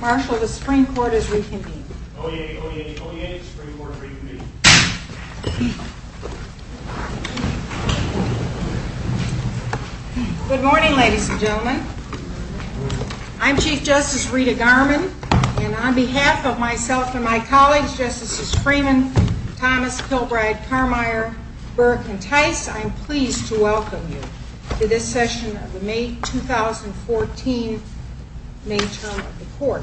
Marshal, the Supreme Court is reconvening. Good morning, ladies and gentlemen. I'm Chief Justice Rita Garman, and on behalf of myself and my colleagues, Justices Freeman, Thomas, Kilbride, Carmeier, Burke, and Tice, I'm pleased to welcome you to this session of the May 2014 May term of the Court.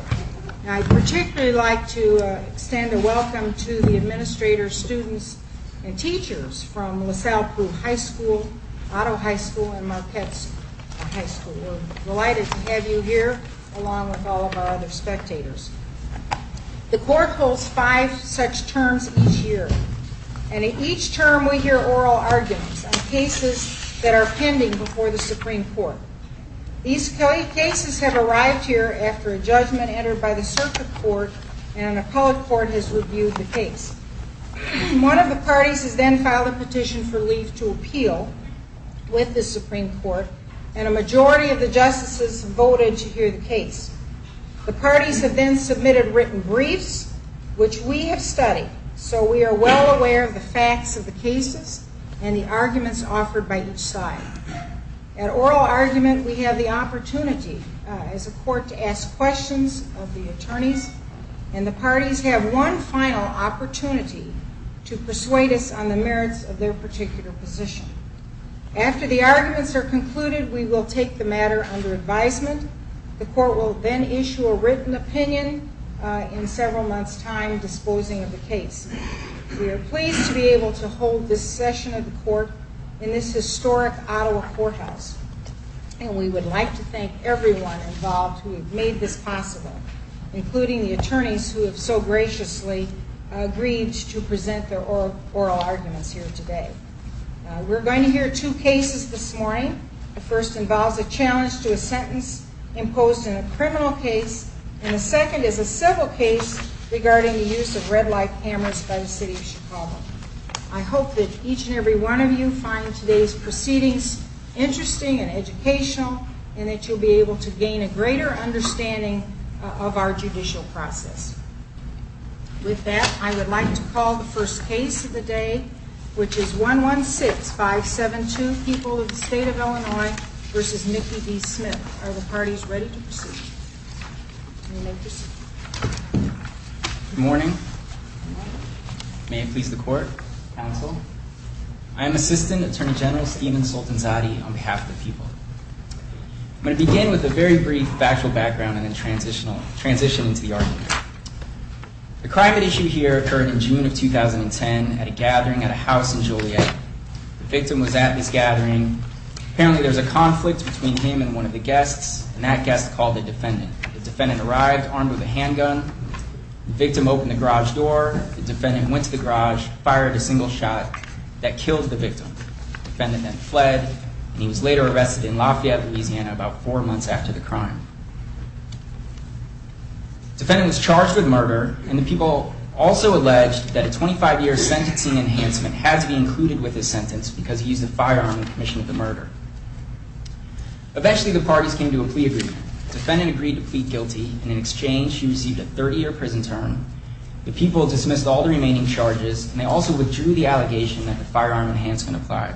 I'd particularly like to extend a welcome to the administrators, students, and teachers from LaSalle Poole High School, Otto High School, and Marquette High School. We're delighted to have you here, along with all of our other spectators. The Court holds five such terms each year, and in each term we hear oral arguments on cases that are pending before the Supreme Court. These cases have arrived here after a judgment entered by the Circuit Court, and an appellate court has reviewed the case. One of the parties has then filed a petition for leave to appeal with the Supreme Court, and a majority of the justices voted to hear the case. The parties have then submitted written briefs, which we have studied, so we are well aware of the argument, we have the opportunity as a court to ask questions of the attorneys, and the parties have one final opportunity to persuade us on the merits of their particular position. After the arguments are concluded, we will take the matter under advisement. The Court will then issue a written opinion in several months' time, disposing of the case. We are the historic Ottawa Courthouse, and we would like to thank everyone involved who have made this possible, including the attorneys who have so graciously agreed to present their oral arguments here today. We're going to hear two cases this morning. The first involves a challenge to a sentence imposed in a criminal case, and the second is a civil case regarding the use of red light cameras by the City of Chicago. I hope that each and every one of you find today's proceedings interesting and educational, and that you'll be able to gain a greater understanding of our judicial process. With that, I would like to call the first case of the day, which is 116-572, People of the State of Illinois v. Mickey D. Smith. Are the parties ready to proceed? Good morning. May it please the Court, Counsel. I am Assistant Attorney General Stephen Soltanzade on behalf of the people. I'm going to begin with a very brief factual background and then transition into the argument. The crime at issue here occurred in June of 2010 at a gathering at a house in Joliet. The victim was at this gathering. Apparently there was a conflict between him and one of the guests, and that guest called the defendant. The defendant arrived armed with a handgun. The victim opened the garage door. The defendant went to the garage, fired a single shot that killed the victim. The defendant then fled, and he was later arrested in Lafayette, Louisiana about four months after the crime. The defendant was charged with murder, and the people also alleged that a 25-year sentencing enhancement had to be included with his sentence because he used a firearm in commission of murder. Eventually the parties came to a plea agreement. The defendant agreed to plead guilty, and in exchange he received a 30-year prison term. The people dismissed all the remaining charges, and they also withdrew the allegation that the firearm enhancement applied.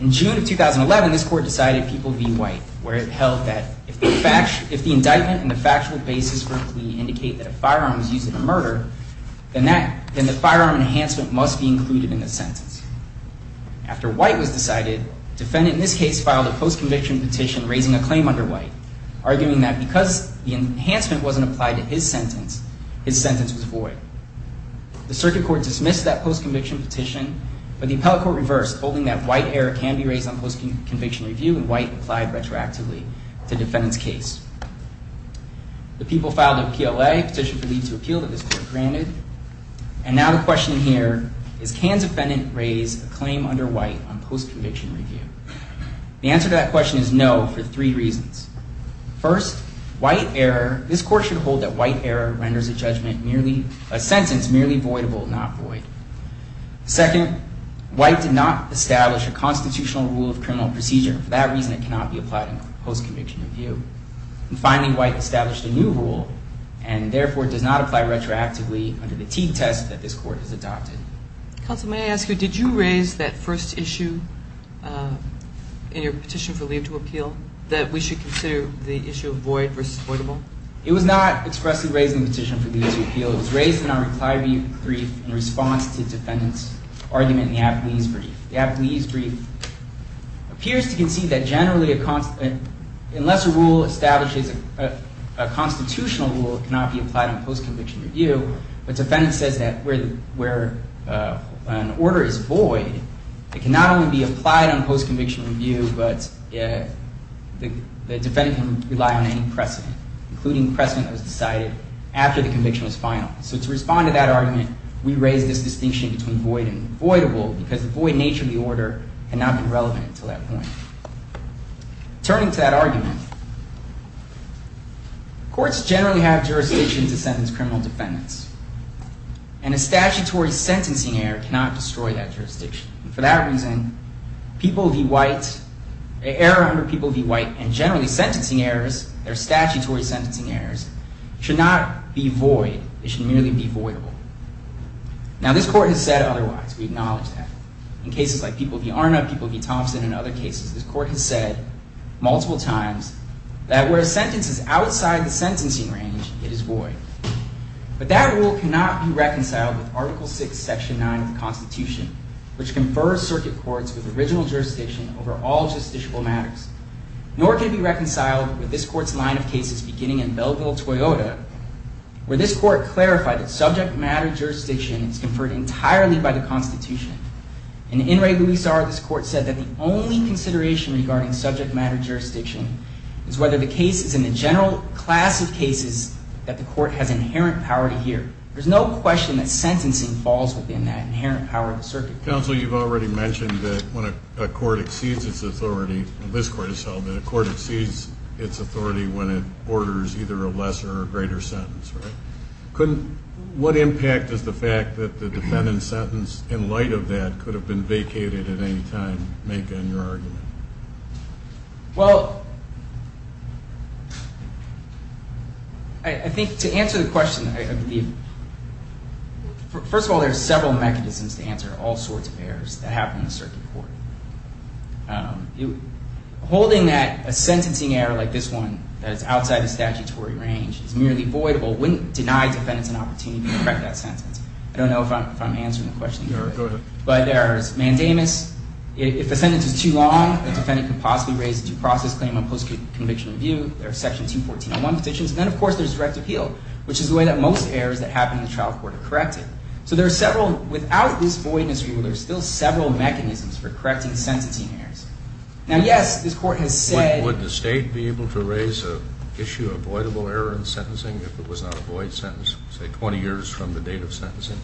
In June of 2011, this Court decided people be white, where it held that if the indictment and the factual basis for a plea indicate that a firearm was used in a murder, then the defendant in this case filed a post-conviction petition raising a claim under white, arguing that because the enhancement wasn't applied to his sentence, his sentence was void. The circuit court dismissed that post-conviction petition, but the appellate court reversed, holding that white error can be raised on post-conviction review, and white applied retroactively to the defendant's case. The people filed a PLA, a petition for leave to appeal, that this Court granted, and now the question here is can defendant raise a claim under white on post-conviction review? The answer to that question is no, for three reasons. First, white error, this Court should hold that white error renders a judgment merely, a sentence merely voidable, not void. Second, white did not establish a constitutional rule of criminal procedure. For that reason, it cannot be applied on post-conviction review. And finally, white established a new rule, and therefore does not apply retroactively under the Teague test that this Court has adopted. Counsel, may I ask you, did you raise that first issue in your petition for leave to appeal, that we should consider the issue of void versus voidable? It was not expressly raised in the petition for leave to appeal. It was raised in our reply brief in response to defendant's argument in the appellee's brief. The appellee's brief appears to concede that generally, unless a rule establishes a constitutional rule, it cannot be applied on post-conviction review. But defendant says that where an order is void, it cannot only be applied on post-conviction review, but the defendant can rely on any precedent, including precedent that was decided after the conviction was final. So to respond to that argument, we raise this distinction between void and voidable, because the void nature of the order cannot be relevant until that point. Turning to that argument, courts generally have jurisdiction to sentence criminal defendants, and a statutory sentencing error cannot destroy that jurisdiction. And for that reason, people v. White, an error under people v. White, and generally sentencing errors, they're statutory sentencing errors, should not be void. They should merely be voidable. Now this Court has said otherwise. We acknowledge that. In cases like people v. Arna, people v. Thompson, and other cases, this Court has said multiple times that where a sentence is outside the sentencing range, it is void. But that rule cannot be reconciled with Article 6, Section 9 of the Constitution, which confers circuit courts with original jurisdiction over all justiciable matters, nor can it be reconciled with this Court's line of cases, beginning in Belleville, Toyota, where this Court clarified that subject matter jurisdiction is conferred entirely by the Constitution. In In re Luis R, this Court said that the only consideration regarding subject matter jurisdiction is whether the case is in the general class of cases that the Court has inherent power to hear. There's no question that sentencing falls within that inherent power of the circuit court. Counsel, you've already mentioned that when a court exceeds its authority, this Court has held that a court exceeds its authority when it orders either a lesser or greater that the defendant's sentence, in light of that, could have been vacated at any time, make on your argument. Well, I think to answer the question, first of all, there are several mechanisms to answer all sorts of errors that happen in the circuit court. Holding that a sentencing error like this one, that is outside the statutory range, is merely void, or wouldn't deny defendants an opportunity to correct that sentence. I don't know if I'm answering the question. Go ahead. But there's mandamus. If the sentence is too long, the defendant could possibly raise a due process claim on post-conviction review. There are section 214.1 petitions. And then, of course, there's direct appeal, which is the way that most errors that happen in the trial court are corrected. So there are several, without this voidness rule, there are still several mechanisms for correcting sentencing errors. Now, yes, this Court has said Would the State be able to issue a voidable error in sentencing if it was not a void sentence say 20 years from the date of sentencing?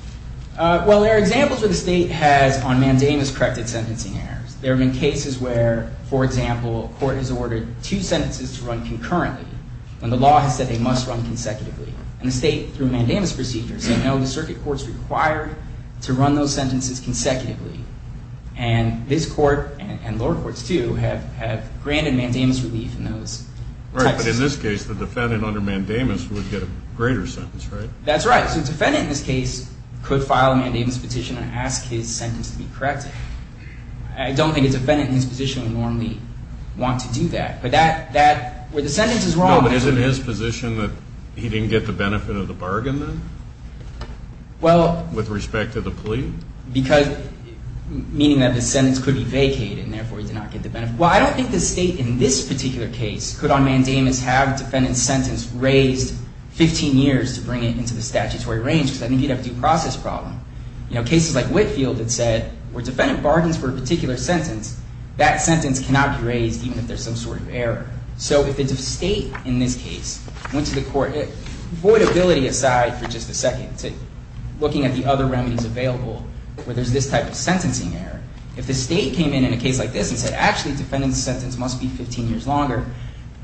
Well, there are examples where the State has, on mandamus, corrected sentencing errors. There have been cases where, for example, a court has ordered two sentences to run concurrently when the law has said they must run consecutively. And the State, through mandamus procedures, said no, the circuit court is required to run those sentences consecutively. And this Court, and lower courts too, have granted mandamus relief in those types of cases. Right, but in this case, the defendant under mandamus would get a greater sentence, right? That's right. So the defendant in this case could file a mandamus petition and ask his sentence to be corrected. I don't think a defendant in this position would normally want to do that. But that, where the sentence is wrong No, but isn't his position that he didn't get the benefit of the bargain then? Well With respect to the plea? Because, meaning that the sentence could be vacated and therefore he did not get the benefit Well, I don't think the State, in this particular case, could on mandamus have a defendant's sentence raised 15 years to bring it into the statutory range because I think you'd have a due process problem. You know, cases like Whitefield that said, where defendant bargains for a particular sentence, that sentence cannot be raised even if there's some sort of error. So if the State, in this case, went to the court Voidability aside for just a second, looking at the other remedies available, where there's this type of sentencing error, if the State came in in a case like this and said, actually defendant's sentence must be 15 years longer,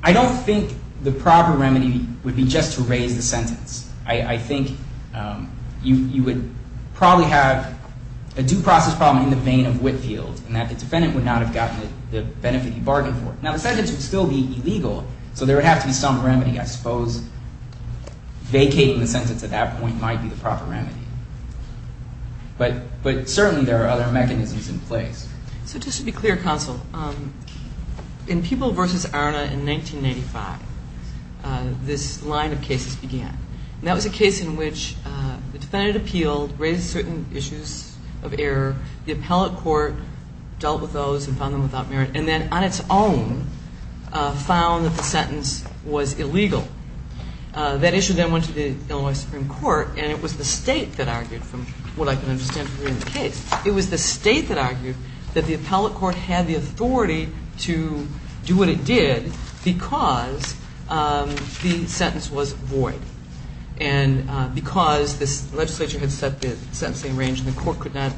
I don't think the proper remedy would be just to raise the sentence. I think you would probably have a due process problem in the vein of Whitefield, and that the defendant would not have gotten the benefit he bargained for. Now the sentence would still be illegal, so there would have to be some remedy. I suppose vacating the sentence at that point might be the proper remedy. But certainly there are other mechanisms in place. So just to be clear, Counsel, in People v. Arna in 1985, this line of cases began. That was a case in which the defendant appealed, raised certain issues of error, the appellate court dealt with those and found them without merit, and then on its own found that the sentence was illegal. That issue then went to the Illinois Supreme Court, and it was the State that argued from what I can understand from reading the case. It was the State that argued that the appellate court had the authority to do what it did because the sentence was void, and because this legislature had set the sentencing range and the court could not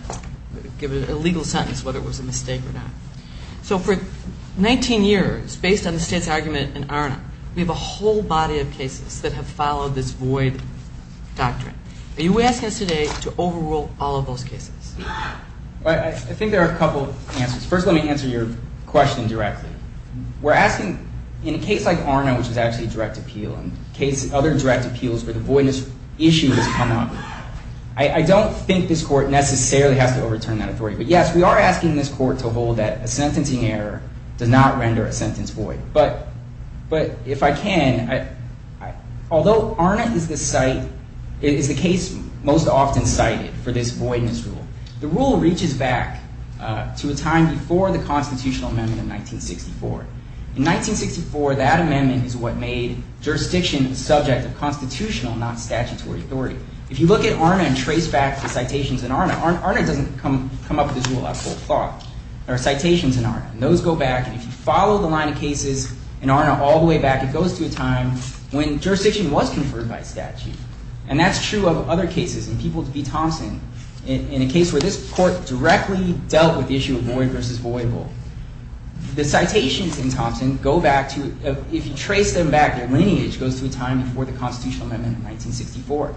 give it a legal sentence whether it was a mistake or not. So for 19 years based on the State's argument in Arna, we have a whole body of cases that have followed this void doctrine. Are you asking us today to I think there are a couple of answers. First, let me answer your question directly. We're asking, in a case like Arna, which is actually a direct appeal and other direct appeals where the voidness issue has come up, I don't think this court necessarily has to overturn that authority. But yes, we are asking this court to hold that a sentencing error does not render a sentence void. But if I can, although Arna is the case most often cited for this voidness rule, the rule reaches back to a time before the constitutional amendment of 1964. In 1964 that amendment is what made jurisdiction a subject of constitutional not statutory authority. If you look at Arna and trace back to citations in Arna, Arna doesn't come up with this rule out of cold cloth. There are citations in Arna and those go back, and if you follow the line of cases in Arna all the way back, it goes to a time when jurisdiction was conferred by statute. And that's true of other cases, in People v. Thompson, in a case where this court directly dealt with the issue of void versus voyable. The citations in Thompson go back to, if you trace them back, their lineage goes to a time before the constitutional amendment of 1964.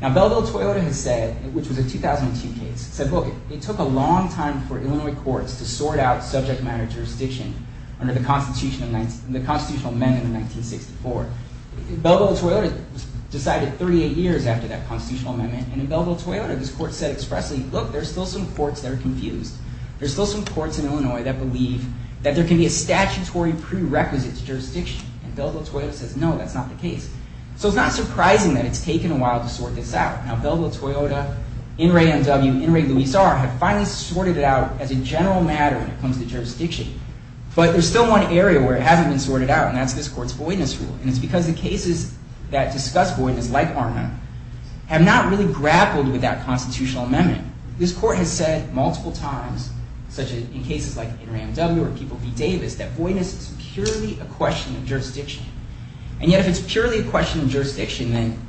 Now Bellville-Toyota has said, which was a 2002 case, said look, it took a long time for Illinois courts to sort out subject matter jurisdiction under the constitutional amendment of 1964. Bellville-Toyota decided 38 years after that constitutional amendment, and in Bellville-Toyota this court said expressly, look, there's still some courts that are confused. There's still some courts in Illinois that believe that there can be a statutory prerequisite to jurisdiction. And Bellville-Toyota says, no, that's not the case. So it's not surprising that it's taken a while to sort this out. Now Bellville-Toyota, N. Ray M. W., N. Ray Luis R. have finally sorted it out as a general matter when it comes to jurisdiction. But there's still one area where it hasn't been sorted out, and that's this court's voidness rule. And it's because the cases that discuss voidness, like Arma, have not really grappled with that constitutional amendment. This court has said multiple times, such as in cases like N. Ray M. W. or People v. Davis, that voidness is purely a question of jurisdiction. And yet if it's purely a question of jurisdiction, then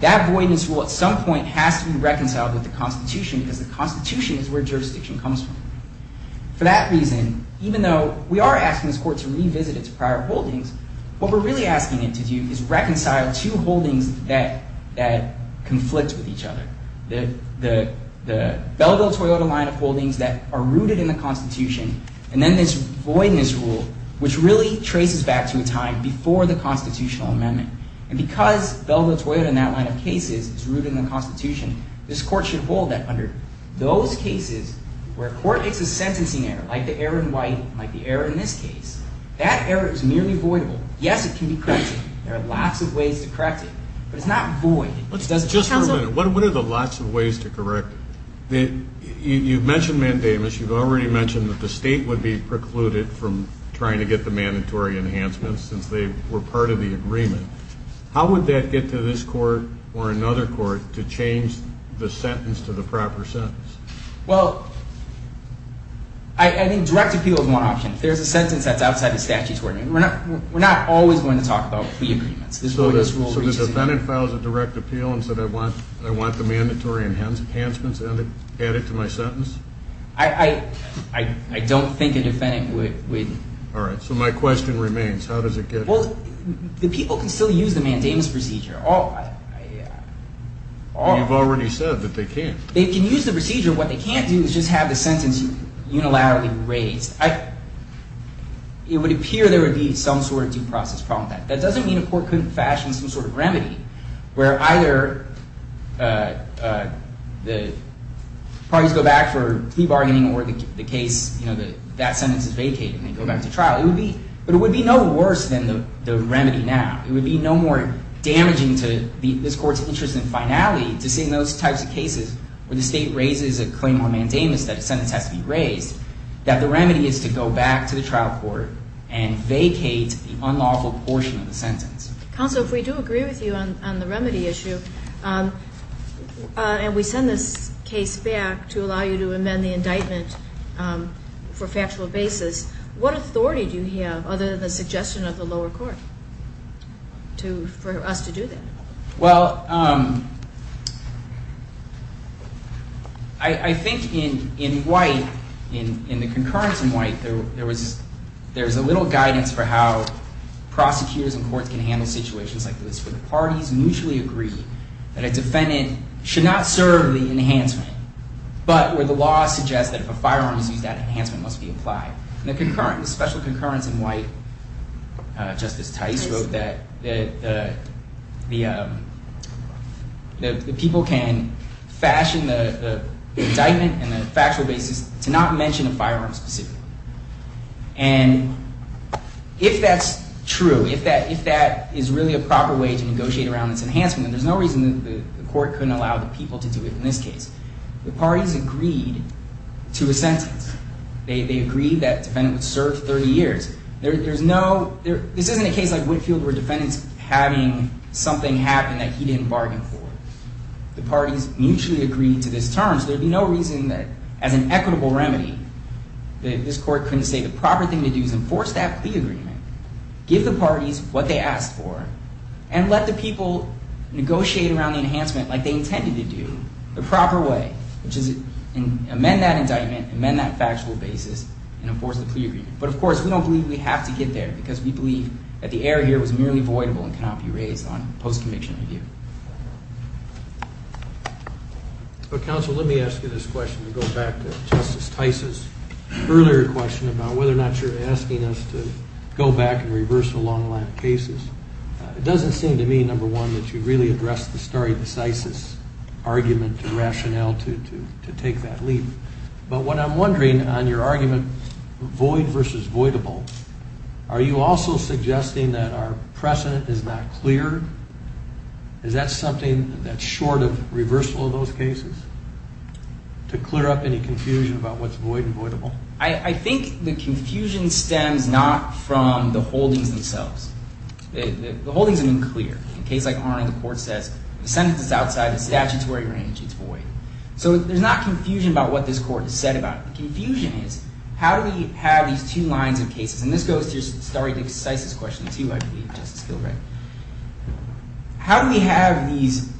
that voidness rule at some point has to be reconciled with the Constitution, because the Constitution is where jurisdiction comes from. For that reason, even though we are asking this court to revisit its prior holdings, what we're really asking it to do is reconcile two holdings that conflict with each other. The Bellville-Toyota line of holdings that are rooted in the Constitution, and then this voidness rule, which really traces back to a time before the constitutional amendment. And because Bellville-Toyota and that line of cases is rooted in the Constitution, this court should hold that under those cases where a court makes a sentencing error, like the error in White, like the error in this case. That error is merely voidable. Yes, it can be corrected. There are lots of ways to correct it. But it's not void. Just a minute. What are the lots of ways to correct it? You've mentioned Mandamus. You've already mentioned that the state would be precluded from trying to get the mandatory enhancements since they were part of the agreement. How would that get to this court or another court to change the sentence to the proper sentence? Well, I think direct appeal is one option. If there's a sentence that's outside the statute, we're not always going to talk about plea agreements. So the defendant files a direct appeal and says, I want the mandatory enhancements added to my sentence? I don't think a defendant would. All right. So my question remains. How does it get there? Well, the people can still use the Mandamus procedure. You've already said that they can't. They can use the procedure. What they can't do is just have the sentence unilaterally raised. It would appear there would be some sort of due process problem with that. That doesn't mean a court couldn't fashion some sort of remedy where either the parties go back for plea bargaining or the case, that sentence is vacated and they go back to trial. But it would be no worse than the remedy now. It would be no more damaging to this court's interest in finality to see those types of cases where the state raises a claim on Mandamus that a sentence has to be raised, that the remedy is to go back to the trial court and vacate the unlawful portion of the sentence. Counsel, if we do agree with you on the remedy issue and we send this case back to allow you to amend the indictment for factual basis, what authority do you have other than the suggestion of the lower court for us to do that? Well, I think in White, in the concurrence in White there's a little guidance for how prosecutors and courts can handle situations like this where the parties mutually agree that a defendant should not serve the enhancement, but where the law suggests that if a firearm is used, that enhancement must be applied. The special concurrence in White, Justice Tice wrote that the people can fashion the indictment and the factual basis to not mention a firearm specifically. And if that's true, if that is really a proper way to negotiate around this enhancement, then there's no reason the court couldn't allow the people to do it in this case. The parties agreed to a term that the defendant would serve 30 years. This isn't a case like Whitfield where a defendant's having something happen that he didn't bargain for. The parties mutually agreed to this term, so there would be no reason that as an equitable remedy, this court couldn't say the proper thing to do is enforce that plea agreement, give the parties what they asked for, and let the people negotiate around the enhancement like they intended to do, the proper way, which is amend that indictment, amend that factual basis, and enforce the plea agreement. But of course, we don't believe we have to get there, because we believe that the error here was merely voidable and cannot be raised on post-conviction review. But counsel, let me ask you this question to go back to Justice Tice's earlier question about whether or not you're asking us to go back and reverse a long line of cases. It doesn't seem to me, number one, that you really address the stare decisis argument or rationale to take that leap. But what I'm wondering on your argument, void versus voidable, are you also suggesting that our precedent is not clear? Is that something that's short of reversal of those cases, to clear up any confusion about what's void and voidable? I think the confusion stems not from the holdings themselves. The holdings have been clear. In a case like Arnold, the court says the sentence is outside the statutory range. It's void. So there's not confusion about what this court has said about it. The confusion is, how do we have these two lines of cases? And this goes to your stare decisis question, too, I believe, Justice Gilbert. How do we have these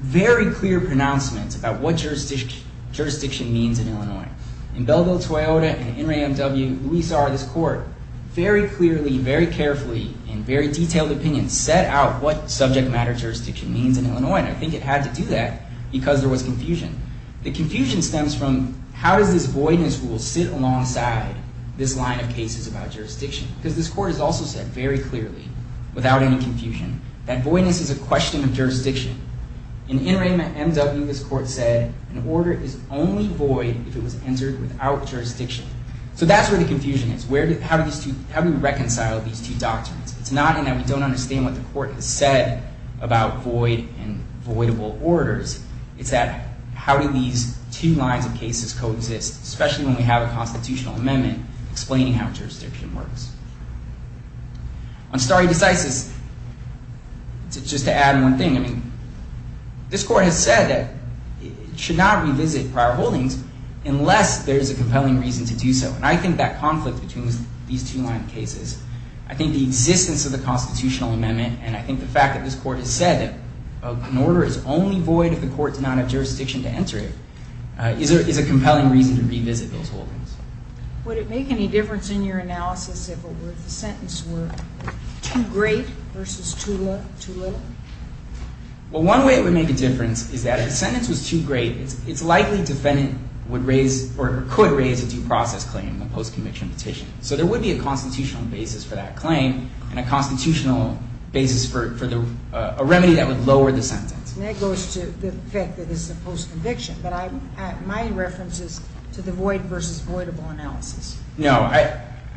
very clear pronouncements about what jurisdiction means in Illinois? In Belleville-Toyota and NRAMW, we saw this court very clearly, very carefully, in very detailed opinions, set out what subject matter jurisdiction means in this case, because there was confusion. The confusion stems from, how does this voidness rule sit alongside this line of cases about jurisdiction? Because this court has also said very clearly, without any confusion, that voidness is a question of jurisdiction. In NRAMW, this court said, an order is only void if it was entered without jurisdiction. So that's where the confusion is. How do we reconcile these two doctrines? It's not in that we don't understand what the court has said about void and voidable orders. It's that, how do these two lines of cases coexist, especially when we have a constitutional amendment explaining how jurisdiction works? On stare decisis, just to add one thing, this court has said that it should not revisit prior holdings unless there is a compelling reason to do so. And I think that conflict between these two line of cases, I think the existence of the constitutional amendment and I think the fact that this court has said that an order is only void if the court did not have jurisdiction to enter it, is a compelling reason to revisit those holdings. Would it make any difference in your analysis if the sentence were too great versus too little? Well, one way it would make a difference is that if the sentence was too great, it's likely the defendant would raise, or could raise, a due process claim, a post-conviction petition. So there would be a constitutional basis for that claim and a constitutional basis for a remedy that would lower the sentence. And that goes to the fact that this is a post-conviction, but my reference is to the void versus voidable analysis. No,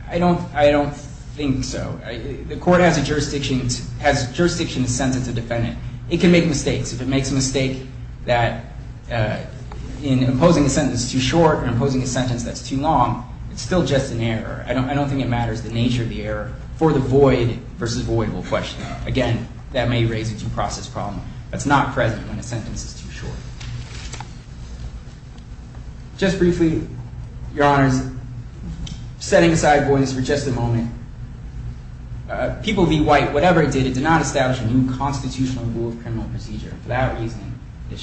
I don't think so. The court has jurisdiction to sentence a defendant. It can make mistakes. If it makes a mistake that, in imposing a sentence too short or imposing a sentence that's too long, it's still just an error. I don't think it matters the nature of the error for the void versus voidable question. Again, that may raise a due process problem. That's not present when a sentence is too short. Just briefly, Your Honors, setting aside voice for just a moment, People v. White, whatever it did, it did not establish a new constitutional rule of criminal procedure. For that reason, it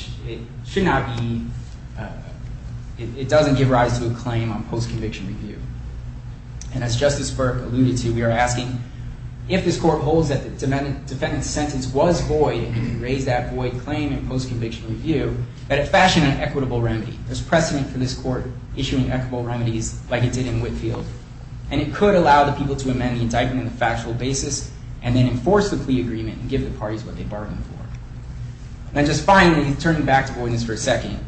should not be it doesn't give rise to a claim on post-conviction review. And as Justice Burke alluded to, we are asking if this court holds that the defendant's sentence was void and can raise that void claim in post-conviction review, that it fashion an equitable remedy. There's precedent for this court issuing equitable remedies like it did in Whitefield. And it could allow the people to amend the indictment on a factual basis and then enforce the plea agreement and give the parties what they bargained for. And just finally, turning back to voidness for a second,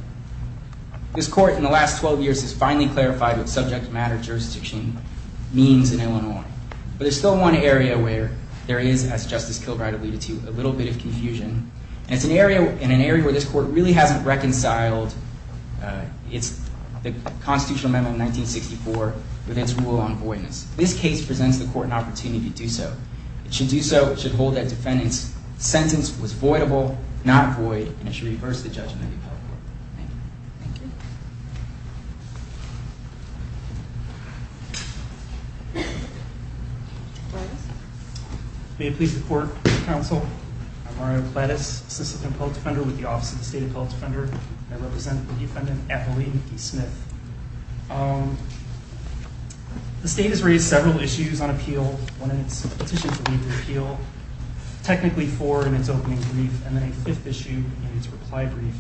this court in the last 12 years has finally clarified what subject matter jurisdiction means in Illinois. But there's still one area where there is, as Justice Kilbride alluded to, a little bit of confusion. And it's an area where this court really hasn't reconciled the constitutional amendment of 1964 with its rule on voidness. This case presents the court an opportunity to do so. It should do so, it should hold that defendant's sentence was voidable, not void, and it should reverse the judgment of the appellate court. Thank you. May it please the court and counsel, I'm Mario Plattis, Assistant Appellate Defender with the Office of the State Appellate Defender. I represent the defendant Apolline E. Smith. The state has raised several issues on appeal, one in its petition to leave the appeal, technically four in its opening brief, and then a fifth issue in its reply brief.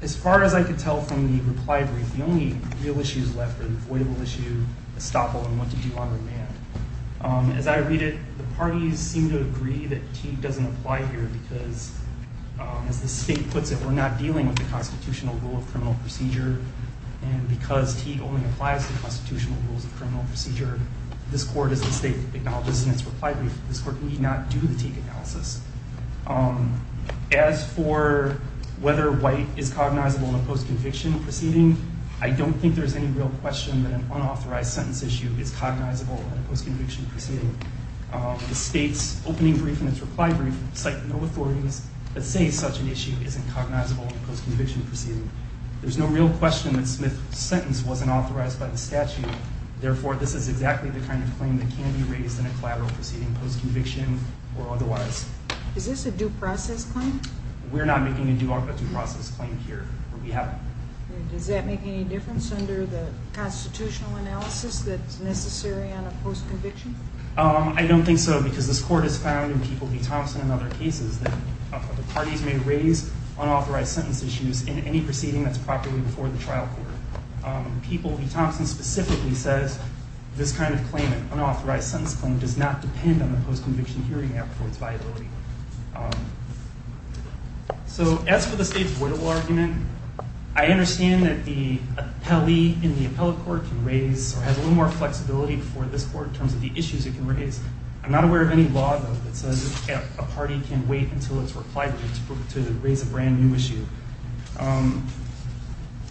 As far as I can tell from the reply brief, the only real issues left are the voidable issue, estoppel, and what to do on remand. As I read it, the parties seem to agree that Teague doesn't apply here because, as the state puts it, we're not dealing with the constitutional rule of criminal procedure, and because Teague only applies to constitutional rules of criminal procedure, this court as the state acknowledges in its reply brief, this court need not do the Teague analysis. As for whether white is cognizable in a post-conviction proceeding, I don't think there's any real question that an unauthorized sentence issue is cognizable in a post-conviction proceeding. The state's opening brief and its reply brief cite no authorities that say such an issue isn't cognizable in a post-conviction proceeding. There's no real question that Smith's sentence wasn't authorized by the statute. Therefore, this is exactly the kind of claim that can be raised in a collateral proceeding, post-conviction, or otherwise. Is this a due process claim? We're not making a due process claim here. We haven't. Does that make any difference under the constitutional analysis that's necessary on a post-conviction? I don't think so, because this court has found in People v. Thompson and other cases that the parties may raise unauthorized sentence issues in any proceeding that's properly before the trial court. People v. Thompson specifically says this kind of claim, an unauthorized sentence claim, does not depend on the post-conviction hearing app for its viability. So, as for the state's voidable argument, I understand that the appellee in the appellate court can raise, or has a little more flexibility for this court in terms of the issues it can raise. I'm not aware of any law, though, that says a party can wait until its reply brief to raise a brand new issue.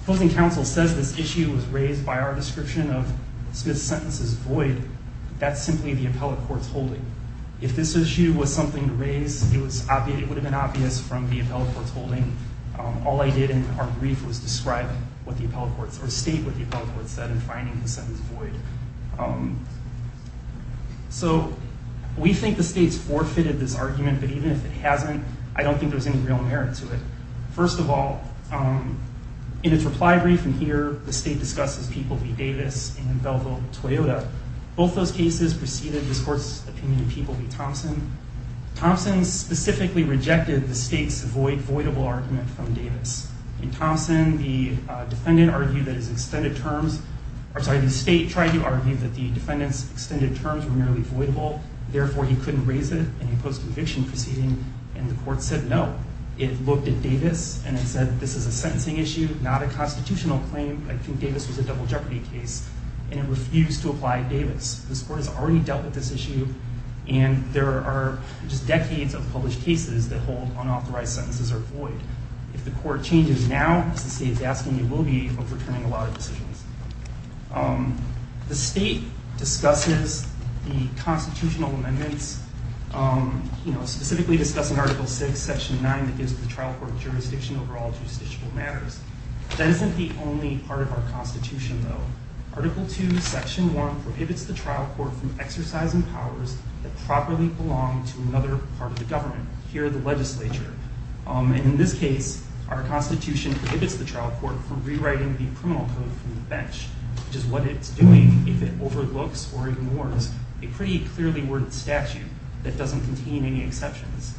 Closing counsel says this issue was raised by our description of the issue. That's simply the appellate court's holding. If this issue was something to raise, it would have been obvious from the appellate court's holding. All I did in our brief was describe what the appellate court, or state what the appellate court said in finding the sentence void. So, we think the state's forfeited this argument, but even if it hasn't, I don't think there's any real merit to it. First of all, in its reply brief, and here the state discusses People v. Davis and Velvo-Toyota, both those cases preceded this court's opinion of People v. Thompson. Thompson specifically rejected the state's voidable argument from Davis. In Thompson, the defendant argued that his extended terms, I'm sorry, the state tried to argue that the defendant's extended terms were merely voidable, therefore he couldn't raise it in a post-conviction proceeding, and the court said no. It looked at Davis, and it said this is a sentencing issue, not a constitutional claim. I think Davis was a double jeopardy case, and it refused to apply Davis. This court has already dealt with this issue, and there are just decades of published cases that hold unauthorized sentences are void. If the court changes now, as the state is asking, it will be overturning a lot of decisions. The state discusses the constitutional amendments, specifically discussing Article 6, Section 9, that gives the trial court jurisdiction over all justiciable matters. That isn't the only part of our Constitution, though. Article 2, Section 1 prohibits the trial court from exercising powers that properly belong to another part of the government, here the legislature. In this case, our Constitution prohibits the trial court from rewriting the criminal code from the bench, which is what it's doing if it overlooks or ignores a pretty clearly worded statute that doesn't contain any exceptions.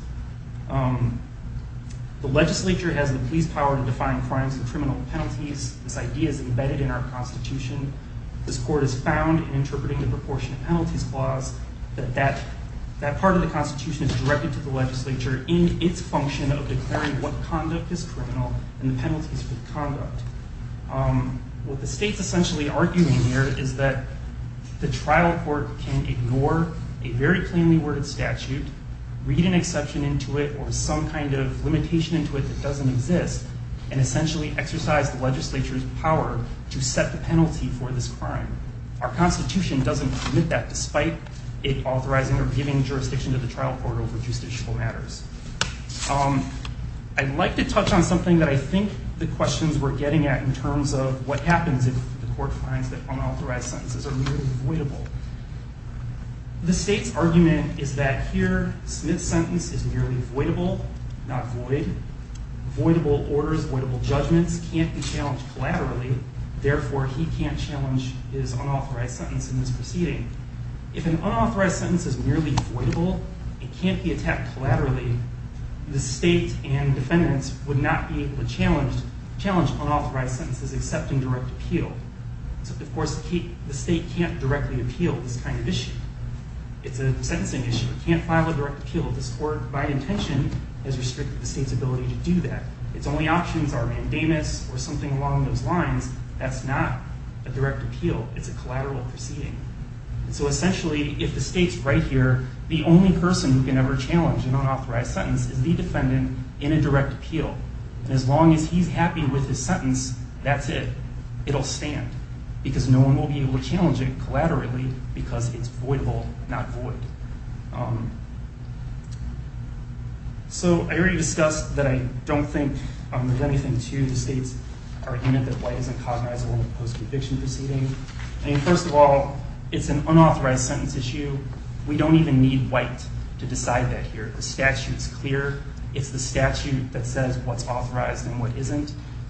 The legislature has the police power to define crimes and criminal penalties. This idea is embedded in our Constitution. This court has found, in interpreting the proportionate penalties clause, that that part of the Constitution is directed to the legislature in its function of declaring what conduct is criminal and the penalties for the conduct. What the state's essentially arguing here is that the trial court can ignore a very plainly worded statute, read an exception into it, or some kind of limitation into it that doesn't exist, and essentially exercise the legislature's power to set the penalty for this crime. Our Constitution doesn't permit that, despite it authorizing or giving jurisdiction to the trial court over justiciable matters. I'd like to touch on something that I think the questions we're getting at in terms of what happens if the court finds that unauthorized sentences are really avoidable. The state's argument is that here Smith's sentence is merely voidable, not void. Voidable orders, voidable judgments can't be challenged collaterally, therefore he can't challenge his unauthorized sentence in this proceeding. If an unauthorized sentence is merely voidable, it can't be attacked collaterally, the state and defendants would not be able to challenge unauthorized sentences, except in direct appeal. Of course, the state can't directly appeal this kind of issue. It's a sentencing issue. It can't file a direct appeal. This court, by intention, has restricted the state's ability to do that. Its only options are mandamus or something along those lines. That's not a direct appeal. It's a collateral proceeding. So essentially, if the state's right here, the only person who can ever challenge an unauthorized sentence is the defendant in a direct appeal. And as long as he's happy with his sentence, that's it. It'll stand. Because no one will be able to challenge it collaterally because it's voidable, not void. So, I already discussed that I don't think there's anything to the state's argument that white isn't cognizable in a post-conviction proceeding. I mean, first of all, it's an unauthorized sentence issue. We don't even need white to decide that here.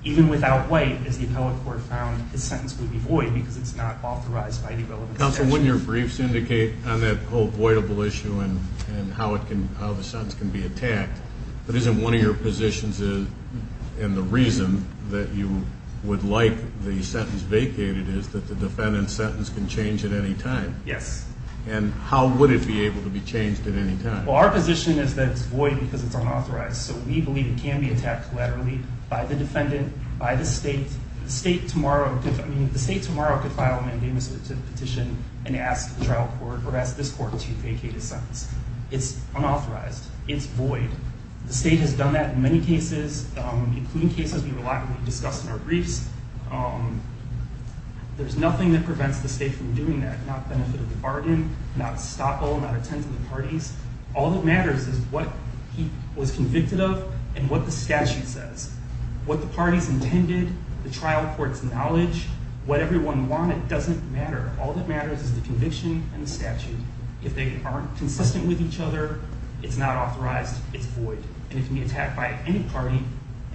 Even without white, as the appellate court found, the sentence would be void because it's not authorized by the relevant section. Counsel, wouldn't your briefs indicate on that whole voidable issue and how the sentence can be attacked, but isn't one of your positions, and the reason that you would like the sentence vacated, is that the defendant's sentence can change at any time? Yes. And how would it be able to be changed at any time? Well, our position is that it's void because it's unauthorized. So, we believe it can be attacked collaterally by the defendant, by the state. The state tomorrow could file a mandamus petition and ask the trial court, or ask this court, to vacate a sentence. It's unauthorized. It's void. The state has done that in many cases, including cases we've a lot discussed in our briefs. There's nothing that prevents the state from doing that. Not benefit of the bargain, not stop all, not attend to the parties. All that matters is what he was convicted of and what the statute says. What the parties intended, the trial court's knowledge, what everyone wanted, doesn't matter. All that matters is the conviction and the statute. If they aren't consistent with each other, it's not authorized. It's void. And it can be attacked by any party,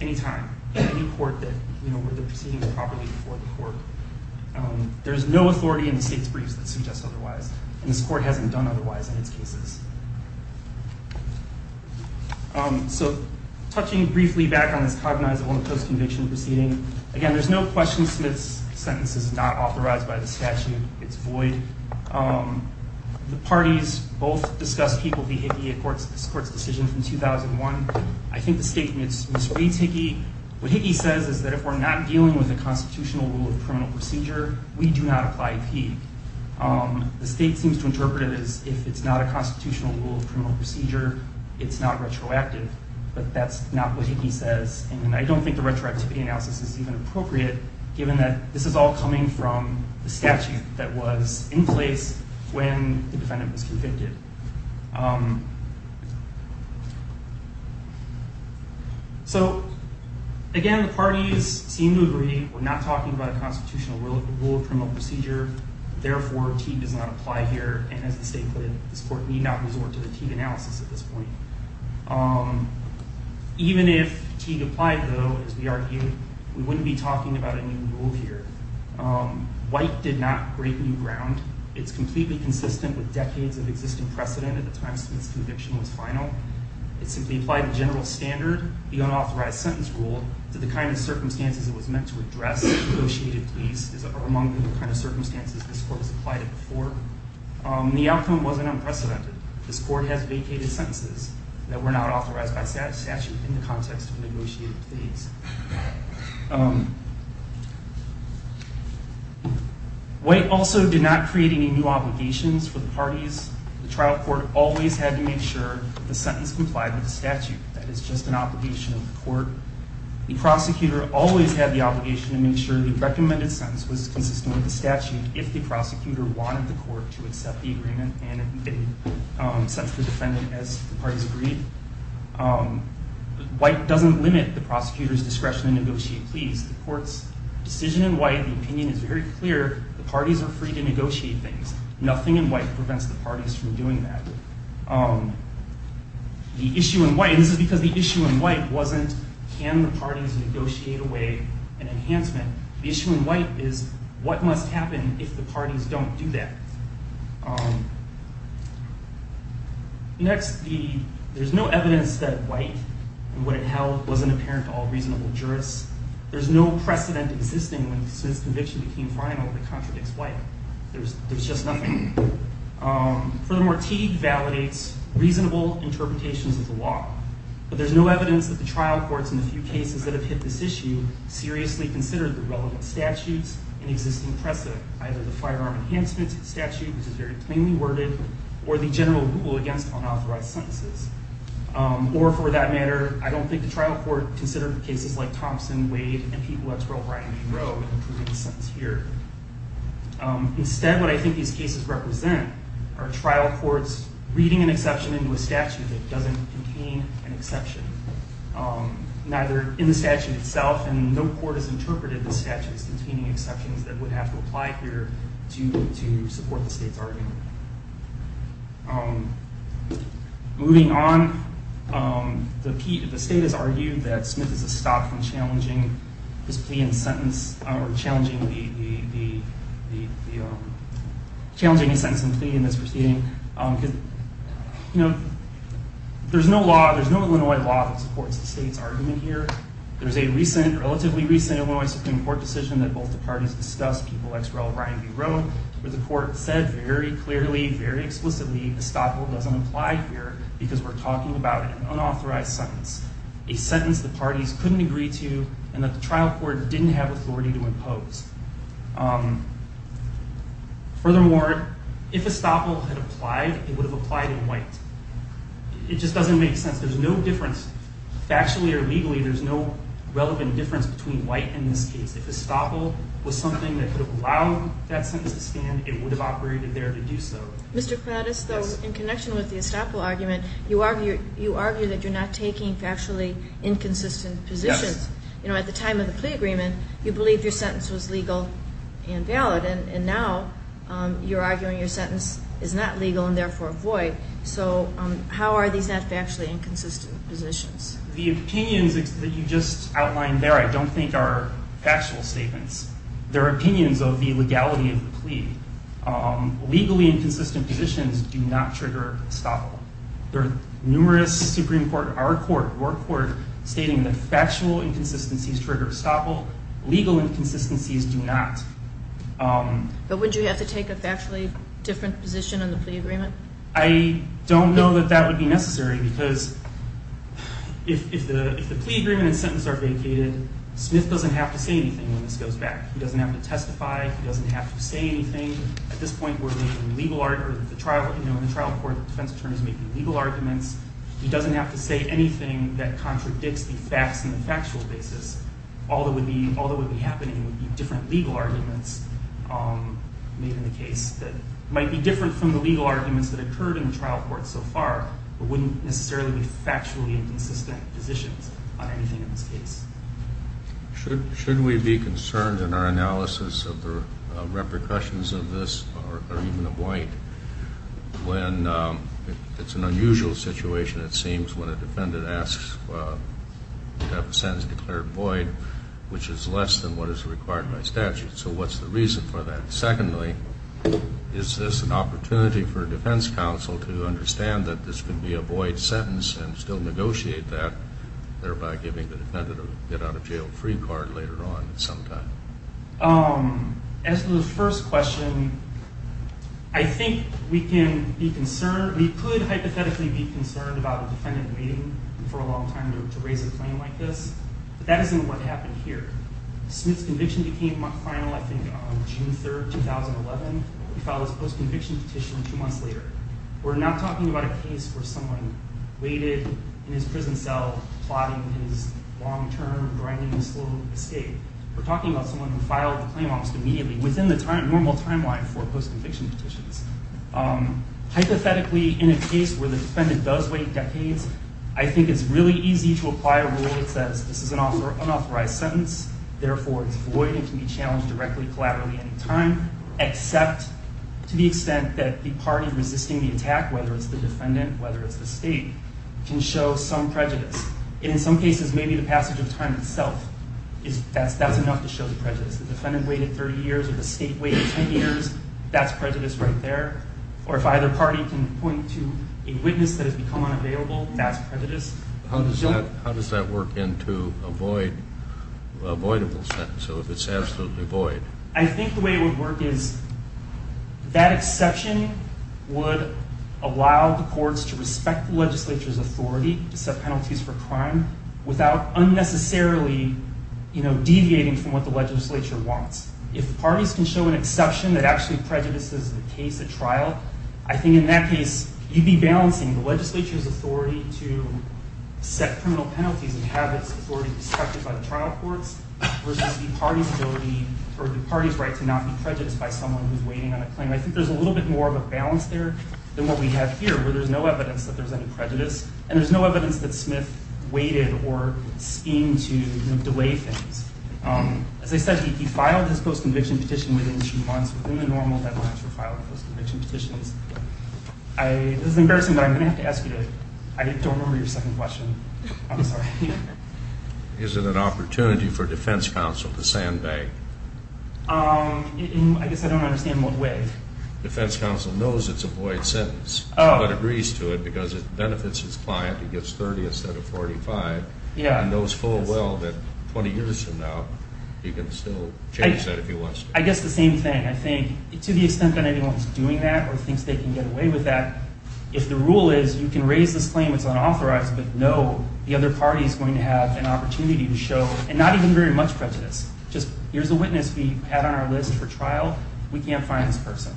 any time, in any court where the proceedings are properly before the court. There's no authority in the state's briefs that suggests otherwise. And this court hasn't done otherwise in its cases. So, touching briefly back on this cognizable post-conviction proceeding, again, there's no question Smith's sentence is not authorized by the statute. It's void. The parties both discussed Hickey v. Hickey, this court's decision from 2001. I think the state misreads Hickey. What Hickey says is that if we're not dealing with a constitutional rule of criminal procedure, we do not apply Hickey. The state seems to interpret it as if it's not a constitutional rule of criminal procedure, it's not retroactive. But that's not what Hickey says. And I don't think the retroactivity analysis is even appropriate given that this is all coming from the statute that was in place when the defendant was convicted. So, again, the parties seem to agree. We're not talking about a constitutional rule of criminal procedure. Therefore, Teague does not apply here. And as the state put it, this court need not resort to the Teague analysis at this point. Even if Teague applied, though, as we argued, we wouldn't be talking about a new rule here. White did not break new ground. It's completely consistent with decades of existing precedent at the time Smith's conviction was final. It simply applied the general standard, the unauthorized sentence rule, to the kind of circumstances it was meant to address in a negotiated case, among the kind of circumstances this court has applied it before. The outcome wasn't unprecedented. This court has vacated sentences that were not authorized by statute in the context of a negotiated case. White also did not create any new obligations for the parties. The trial court always had to make sure the sentence complied with the statute. That is just an obligation of the court. The prosecutor always had the obligation to make sure the recommended sentence was consistent with the statute if the prosecutor wanted the court to accept the agreement and send for the defendant as the parties agreed. White doesn't limit the prosecutor's discretion to negotiate pleas. The court's decision in White, the opinion is very clear. The parties are free to negotiate things. Nothing in White prevents the parties from doing that. The issue in White, and this is because the issue in White wasn't can the parties negotiate away an enhancement. The issue in White is what must happen if the parties don't do that. Next, there's no evidence that White and what it held wasn't apparent to all reasonable jurists. There's no precedent existing since conviction became final that contradicts White. There's just nothing. Furthermore, Teague validates reasonable interpretations of the law, but there's no evidence that the trial courts in the few cases that have hit this issue seriously considered the relevant statutes and existing precedent, either the firearm enhancement statute which is very plainly worded, or the general rule against unauthorized sentences. Or for that matter, I don't think the trial court considered cases like Thompson, Wade, and Pete Wexler, O'Brien, and Roe. Instead, what I think these cases represent are trial courts reading an exception into a statute that doesn't contain an exception, neither in the statute itself and no court has interpreted the statutes containing exceptions that would have to apply here to support the state's argument. Moving on, the state has argued that Smith is a stop on challenging this plea and sentence, or challenging the challenging the sentence and plea in this proceeding. There's no law, there's no Illinois law that supports the state's argument here. There's a recent, relatively recent Illinois Supreme Court decision that both the parties discussed, Peeble, Exrell, O'Brien, and Roe where the court said very clearly, very explicitly, the stop rule doesn't apply here because we're talking about an unauthorized sentence. A sentence the parties couldn't agree to and that the trial court didn't have authority to impose. Furthermore, if a stop rule had applied, it would have applied in white. It just doesn't make sense. There's no difference, factually or legally, there's no relevant difference between white and this case. If a stop rule was something that could have allowed that sentence to stand, it would have operated there to do so. Mr. Prattis, though, in connection with the stop rule argument, you argue that you're not taking factually inconsistent positions. At the time of the plea agreement, you believed your sentence was legal and valid and now you're arguing your sentence is not legal and therefore void, so how are these not factually inconsistent positions? The opinions that you just outlined there, I don't think are factual statements. They're opinions of the legality of the plea. Legally inconsistent positions do not trigger stop rule. Legal inconsistencies do not. But would you have to take a factually different position on the plea agreement? I don't know that that would be necessary because if the plea agreement and sentence are vacated, Smith doesn't have to say anything when this goes back. He doesn't have to testify. He doesn't have to say anything. At this point, we're making legal arguments. The trial court defense attorney is making legal arguments. He doesn't have to say anything that contradicts the facts on a factual basis. All that would be happening would be different legal arguments made in the case that might be different from the legal arguments that occurred in the trial court so far, but wouldn't necessarily be factually inconsistent positions on anything in this case. Shouldn't we be concerned in our analysis of the repercussions of this, or even of White, when it's an unusual situation, it seems, when a defendant has a sentence declared void, which is less than what is required by statute. So what's the reason for that? Secondly, is this an opportunity for a defense counsel to understand that this could be a void sentence and still negotiate that, thereby giving the defendant a get out of jail free card later on at some time? As to the first question, I think we can be concerned about a defendant waiting for a long time to raise a claim like this, but that isn't what happened here. Smith's conviction became final I think on June 3rd, 2011. He filed his post-conviction petition two months later. We're not talking about a case where someone waited in his prison cell, plotting his long-term, grinding, slow escape. We're talking about someone who filed the claim almost immediately, within the normal timeline for post-conviction petitions. Hypothetically, in a case where the defendant does wait decades, I think it's really easy to apply a rule that says this is an unauthorized sentence, therefore it's void and can be challenged directly, collaterally, any time, except to the extent that the party resisting the attack, whether it's the defendant, whether it's the state, can show some prejudice. And in some cases, maybe the passage of time itself is enough to show the prejudice. The defendant waited 30 years or the state waited 10 years, that's prejudice right there. Or if either party can point to a witness that has become unavailable, that's prejudice. How does that work into a voidable sentence, so if it's absolutely void? I think the way it would work is that exception would allow the courts to respect the legislature's authority to set penalties for crime without unnecessarily deviating from what the legislature wants. If the parties can show an exception that actually prejudices the case at trial, I think in that case, you'd be balancing the legislature's authority to set criminal penalties and have its authority respected by the trial courts versus the party's ability, or the party's right to not be prejudiced by someone who's waiting on a claim. I think there's a little bit more of a balance there than what we have here, where there's no evidence that there's any prejudice, and there's no evidence that Smith waited or schemed to delay things. As I said, he filed his post-conviction petition within three months, within the normal deadlines for filing post-conviction petitions. This is embarrassing, but I'm going to have to ask you to, I don't remember your second question. I'm sorry. Is it an opportunity for defense counsel to sandbag? I guess I don't understand what way. Defense counsel knows it's a void sentence, but agrees to it because it benefits his client, he gets 30 instead of 45, and knows full well that 20 years from now, he can still change that if he wants to. I guess the same thing. I think, to the extent that anyone's doing that or thinks they can get away with that, if the rule is you can raise this claim, it's unauthorized, but no, the other party is going to have an opportunity to show, and not even very much prejudice, just here's a witness we had on our list for trial, we can't find this person.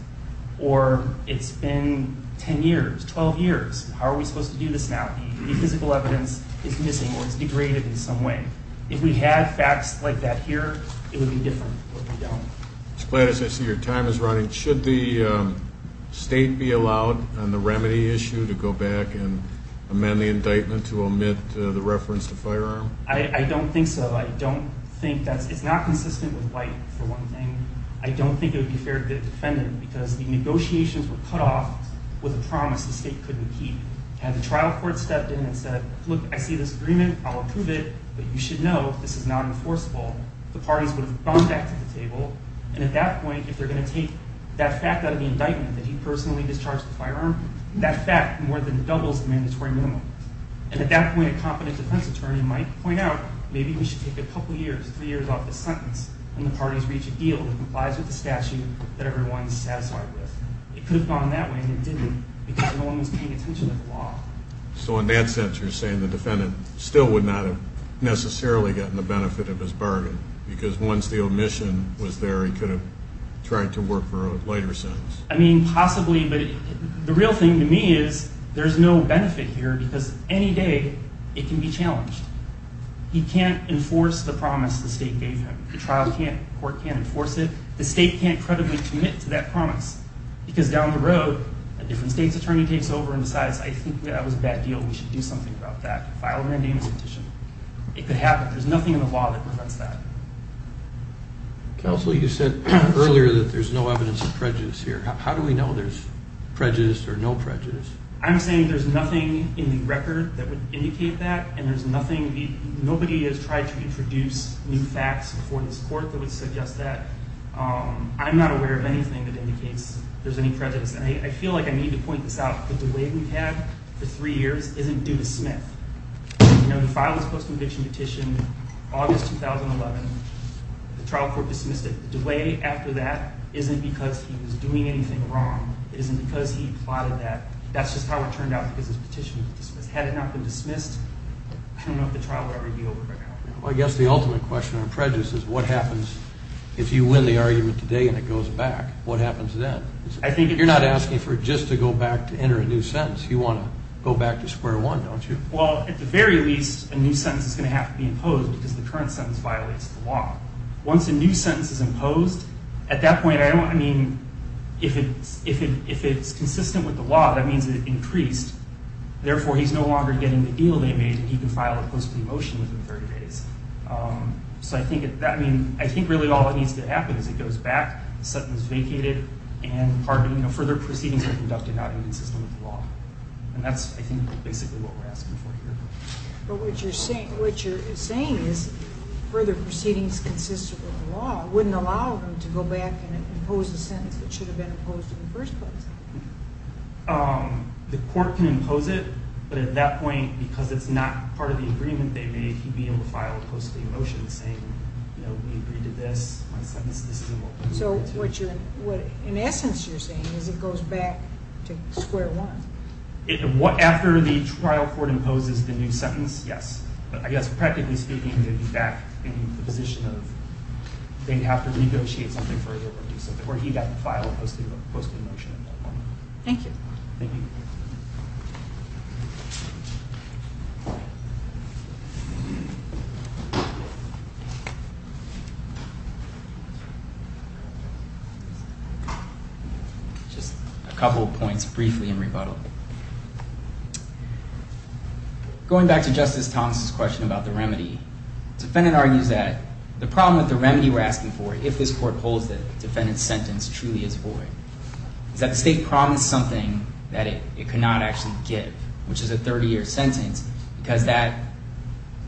Or it's been 10 years, 12 years, how are we supposed to do this now? The physical evidence is missing, or it's degraded in some way. If we had facts like that here, it would be different, but we don't. As glad as I see your time is running, should the state be allowed on the remedy issue to go back and amend the indictment to omit the reference to firearm? I don't think so. I don't think that's, it's not consistent with white, for one thing. I don't think it would be fair to the defendant, because the negotiations were cut off with a promise the state couldn't keep. Had the trial court stepped in and said, look, I see this agreement, I'll approve it, but you should know this is not enforceable, the parties would have gone back to the table, and at that point, if they're going to take that fact out of the indictment, that he personally discharged the firearm, that fact more than doubles the mandatory minimum. And at that point, a competent defense attorney might point out maybe we should take a couple years, three years off this sentence, and the parties reach a deal that complies with the statute that everyone's satisfied with. It could have gone that way, and it didn't, because no one was paying attention to the law. So in that sense, you're saying the defendant still would not have necessarily gotten the benefit of his bargain, because once the omission was there, he could have tried to work for a lighter sentence. I mean, possibly, but the real thing to me is, there's no benefit here, because any day it can be challenged. He can't enforce the promise the state gave him. The trial court can't enforce it. The state can't credibly commit to that promise, because down the road, a different state's attorney takes over and decides, I think that was a bad deal. We should do something about that. File a mandamus petition. It could happen. There's nothing in the law that prevents that. Counsel, you said earlier that there's no evidence of prejudice here. How do we know there's prejudice or no prejudice? I'm saying there's nothing in the record that would indicate that, and there's nothing, nobody has tried to introduce new facts before this court that would suggest that. I'm not aware of anything that indicates there's any prejudice, and I feel like I need to point this out, that the way we've had for three years isn't due to Smith. You know, he filed his post-conviction petition in August 2011. The trial court dismissed it. The way after that isn't because he was doing anything wrong. It isn't because he plotted that. That's just how it turned out, because his petition was dismissed. Had it not been dismissed, I don't know if the trial would ever be over right now. Well, I guess the ultimate question on prejudice is what happens if you win the argument today and it goes back? What happens then? You're not asking for it just to go back to enter a new sentence. You want to go back to square one, don't you? Well, at the very least, a new sentence is going to have to be imposed, because the current sentence violates the law. Once a new sentence is imposed, at that point, I don't, I mean, if it's consistent with the law, that means it increased. Therefore, he's no longer getting the deal they made that he can file a post-conviction motion within 30 days. So I think, I mean, I think really all that needs to happen is it goes back, the sentence is vacated, and further proceedings are conducted not inconsistent with the law. And that's, I think, basically what we're asking for here. But what you're saying is further proceedings consistent with the law wouldn't allow them to go back and impose a sentence that should have been imposed in the first place. The court can impose it, but at that point, because it's not part of the agreement they made, he'd be able to file a post-conviction motion saying, you know, we agreed to this. So what you're, in essence, you're saying is it goes back to square one. After the trial court imposes the new sentence, yes. But I guess practically speaking, they'd be back in the position of they'd have to negotiate something further, or he'd have to file a post-conviction motion at that point. Thank you. Just a couple of points briefly in rebuttal. Going back to Justice Thomas' question about the remedy, the defendant argues that the problem with the remedy we're asking for, if this court holds that the defendant's sentence truly is void, is that the state promised something that it could not actually give, which is a 30-year sentence, because that,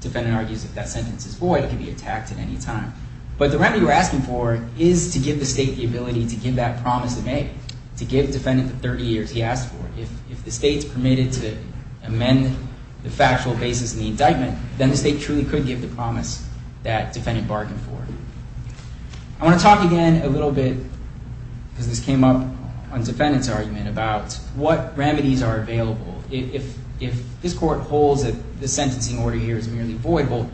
the defendant argues, if that sentence is void, it could be attacked at any time. But the remedy we're asking for is to give the state the ability to give that promise it made, to give the defendant the 30 years he asked for. If the state's permitted to amend the factual basis of the indictment, then the state truly could give the promise that defendant bargained for. I want to talk again a little bit, because this came up on the defendant's argument, about what remedies are available if this court holds that the sentencing order here is merely voidable.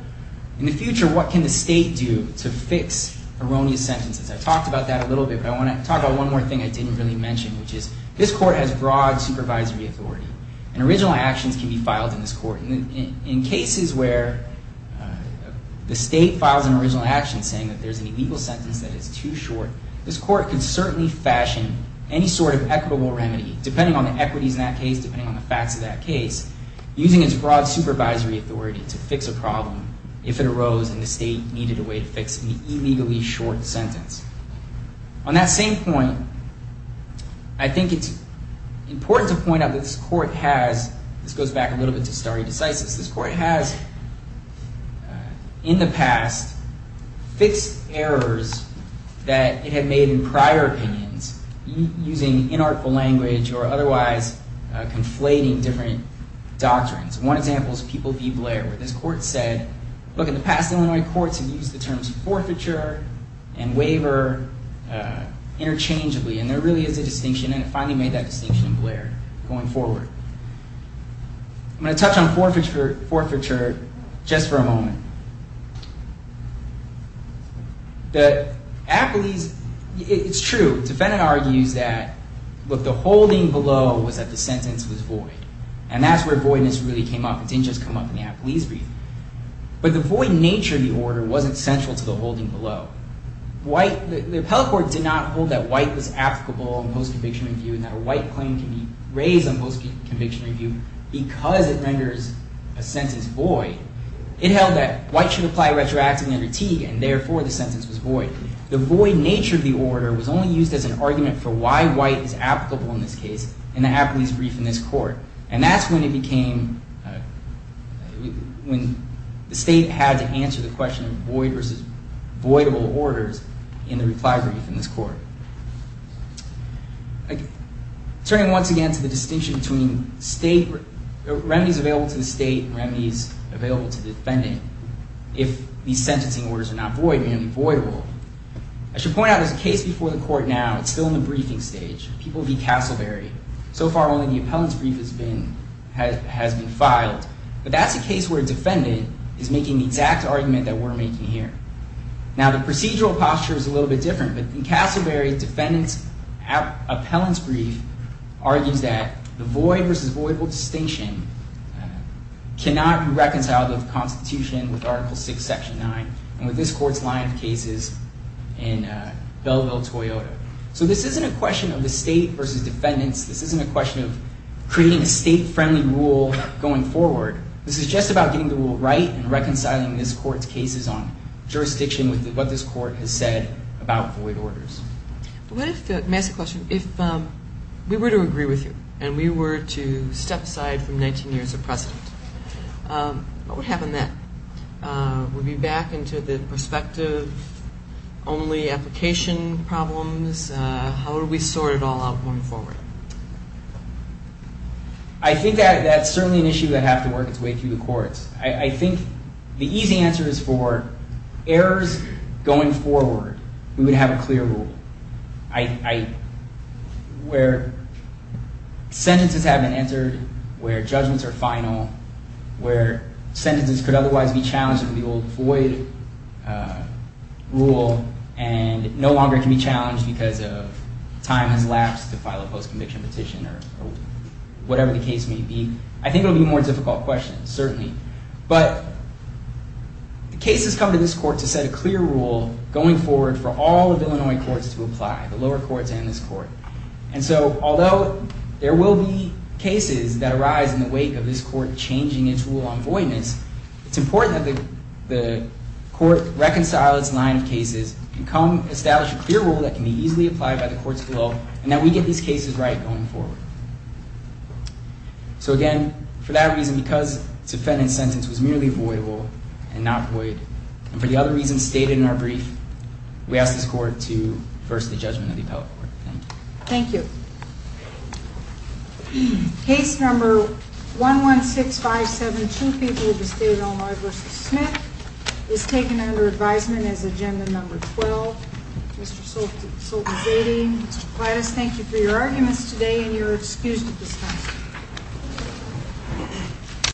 In the future, what can the state do to fix erroneous sentences? I've talked about that a little bit, but I want to talk about one more thing I didn't really mention, which is this court has broad supervisory authority, and original actions can be filed in this court. In cases where the state files an original action saying that there's an illegal sentence that is too short, this court can certainly fashion any sort of equitable remedy, depending on the equities in that case, depending on the facts of that case, using its broad supervisory authority to fix a problem if it arose and the state needed a way to fix an illegally short sentence. On that same point, I think it's important to point out that this court has, this goes back a little bit to stare decisis, this court has in the past fixed errors that it had made in prior opinions using inartful language or otherwise conflating different doctrines. One example is People v. Blair, where this court said, look, in the past Illinois courts have used the terms forfeiture and waiver interchangeably, and there really is a distinction and it finally made that distinction in Blair going forward. I'm going to touch on forfeiture just for a moment. The appellees, it's true, the defendant argues that the holding below was that the sentence was void, and that's where voidness really came up, it didn't just come up in the appellees' brief. But the void nature of the order wasn't central to the holding below. The appellate court did not hold that white was applicable in post-conviction review and that a white claim can be raised on post-conviction review because it renders a sentence void. It held that white should apply retroactively under Teague and therefore the sentence was void. The void nature of the order was only used as an argument for why white is applicable in this case in the appellees' brief in this court, and that's when it became when the state had to answer the question of void versus voidable orders in the reply brief in this court. Turning once again to the distinction between state remedies available to the state and remedies available to the defendant if these sentencing orders are not void, meaning voidable. I should point out there's a case before the court now, it's still in the briefing stage, people v. Castleberry. So far only the appellants' brief has been filed. But that's a case where a defendant is making the exact argument that we're making here. Now the procedural posture is a little bit different, but in Castleberry, the defendants' appellants' brief argues that the void versus voidable distinction cannot be reconciled with the Constitution, with Article 6, Section 9, and with this court's line of cases in Belleville-Toyota. So this isn't a question of the state versus defendants. This isn't a question of creating a state-friendly rule going forward. This is just about getting the rule right and reconciling this court's cases on jurisdiction with what this court has said about void orders. But what if, massive question, if we were to agree with you and we were to step aside from 19 years of precedent, what would happen then? Would we be back into the prospective-only application problems? How would we sort it all out going forward? I think that's certainly an issue that would have to work its way through the courts. I think the easy answer is for errors going forward, we would have a clear rule. Where sentences have been entered, where judgments are final, where sentences could otherwise be challenged under the old void rule and no longer can be challenged because of time has lapsed to file a post-conviction petition or whatever the case may be. I think it will be a more difficult question, certainly. But the cases come to this court to set a clear rule going forward for all of Illinois courts to apply, the lower courts and this court. And so, although there will be cases that arise in the wake of this court changing its rule on voidness, it's important that the court reconcile its line of cases and come establish a clear rule that can be easily applied by the courts below and that we get these cases right going forward. So again, for that reason, because the defendant's sentence was merely voidable and not void and for the other reasons stated in our brief, we ask this court to first the judgment of the appellate court. Thank you. Case number 116572 People of the State of Illinois v. Smith is taken under advisement as agenda number 12. Mr. Soltanz-Ading, Mr. Plattis, thank you for your arguments today and your excuse to discuss them.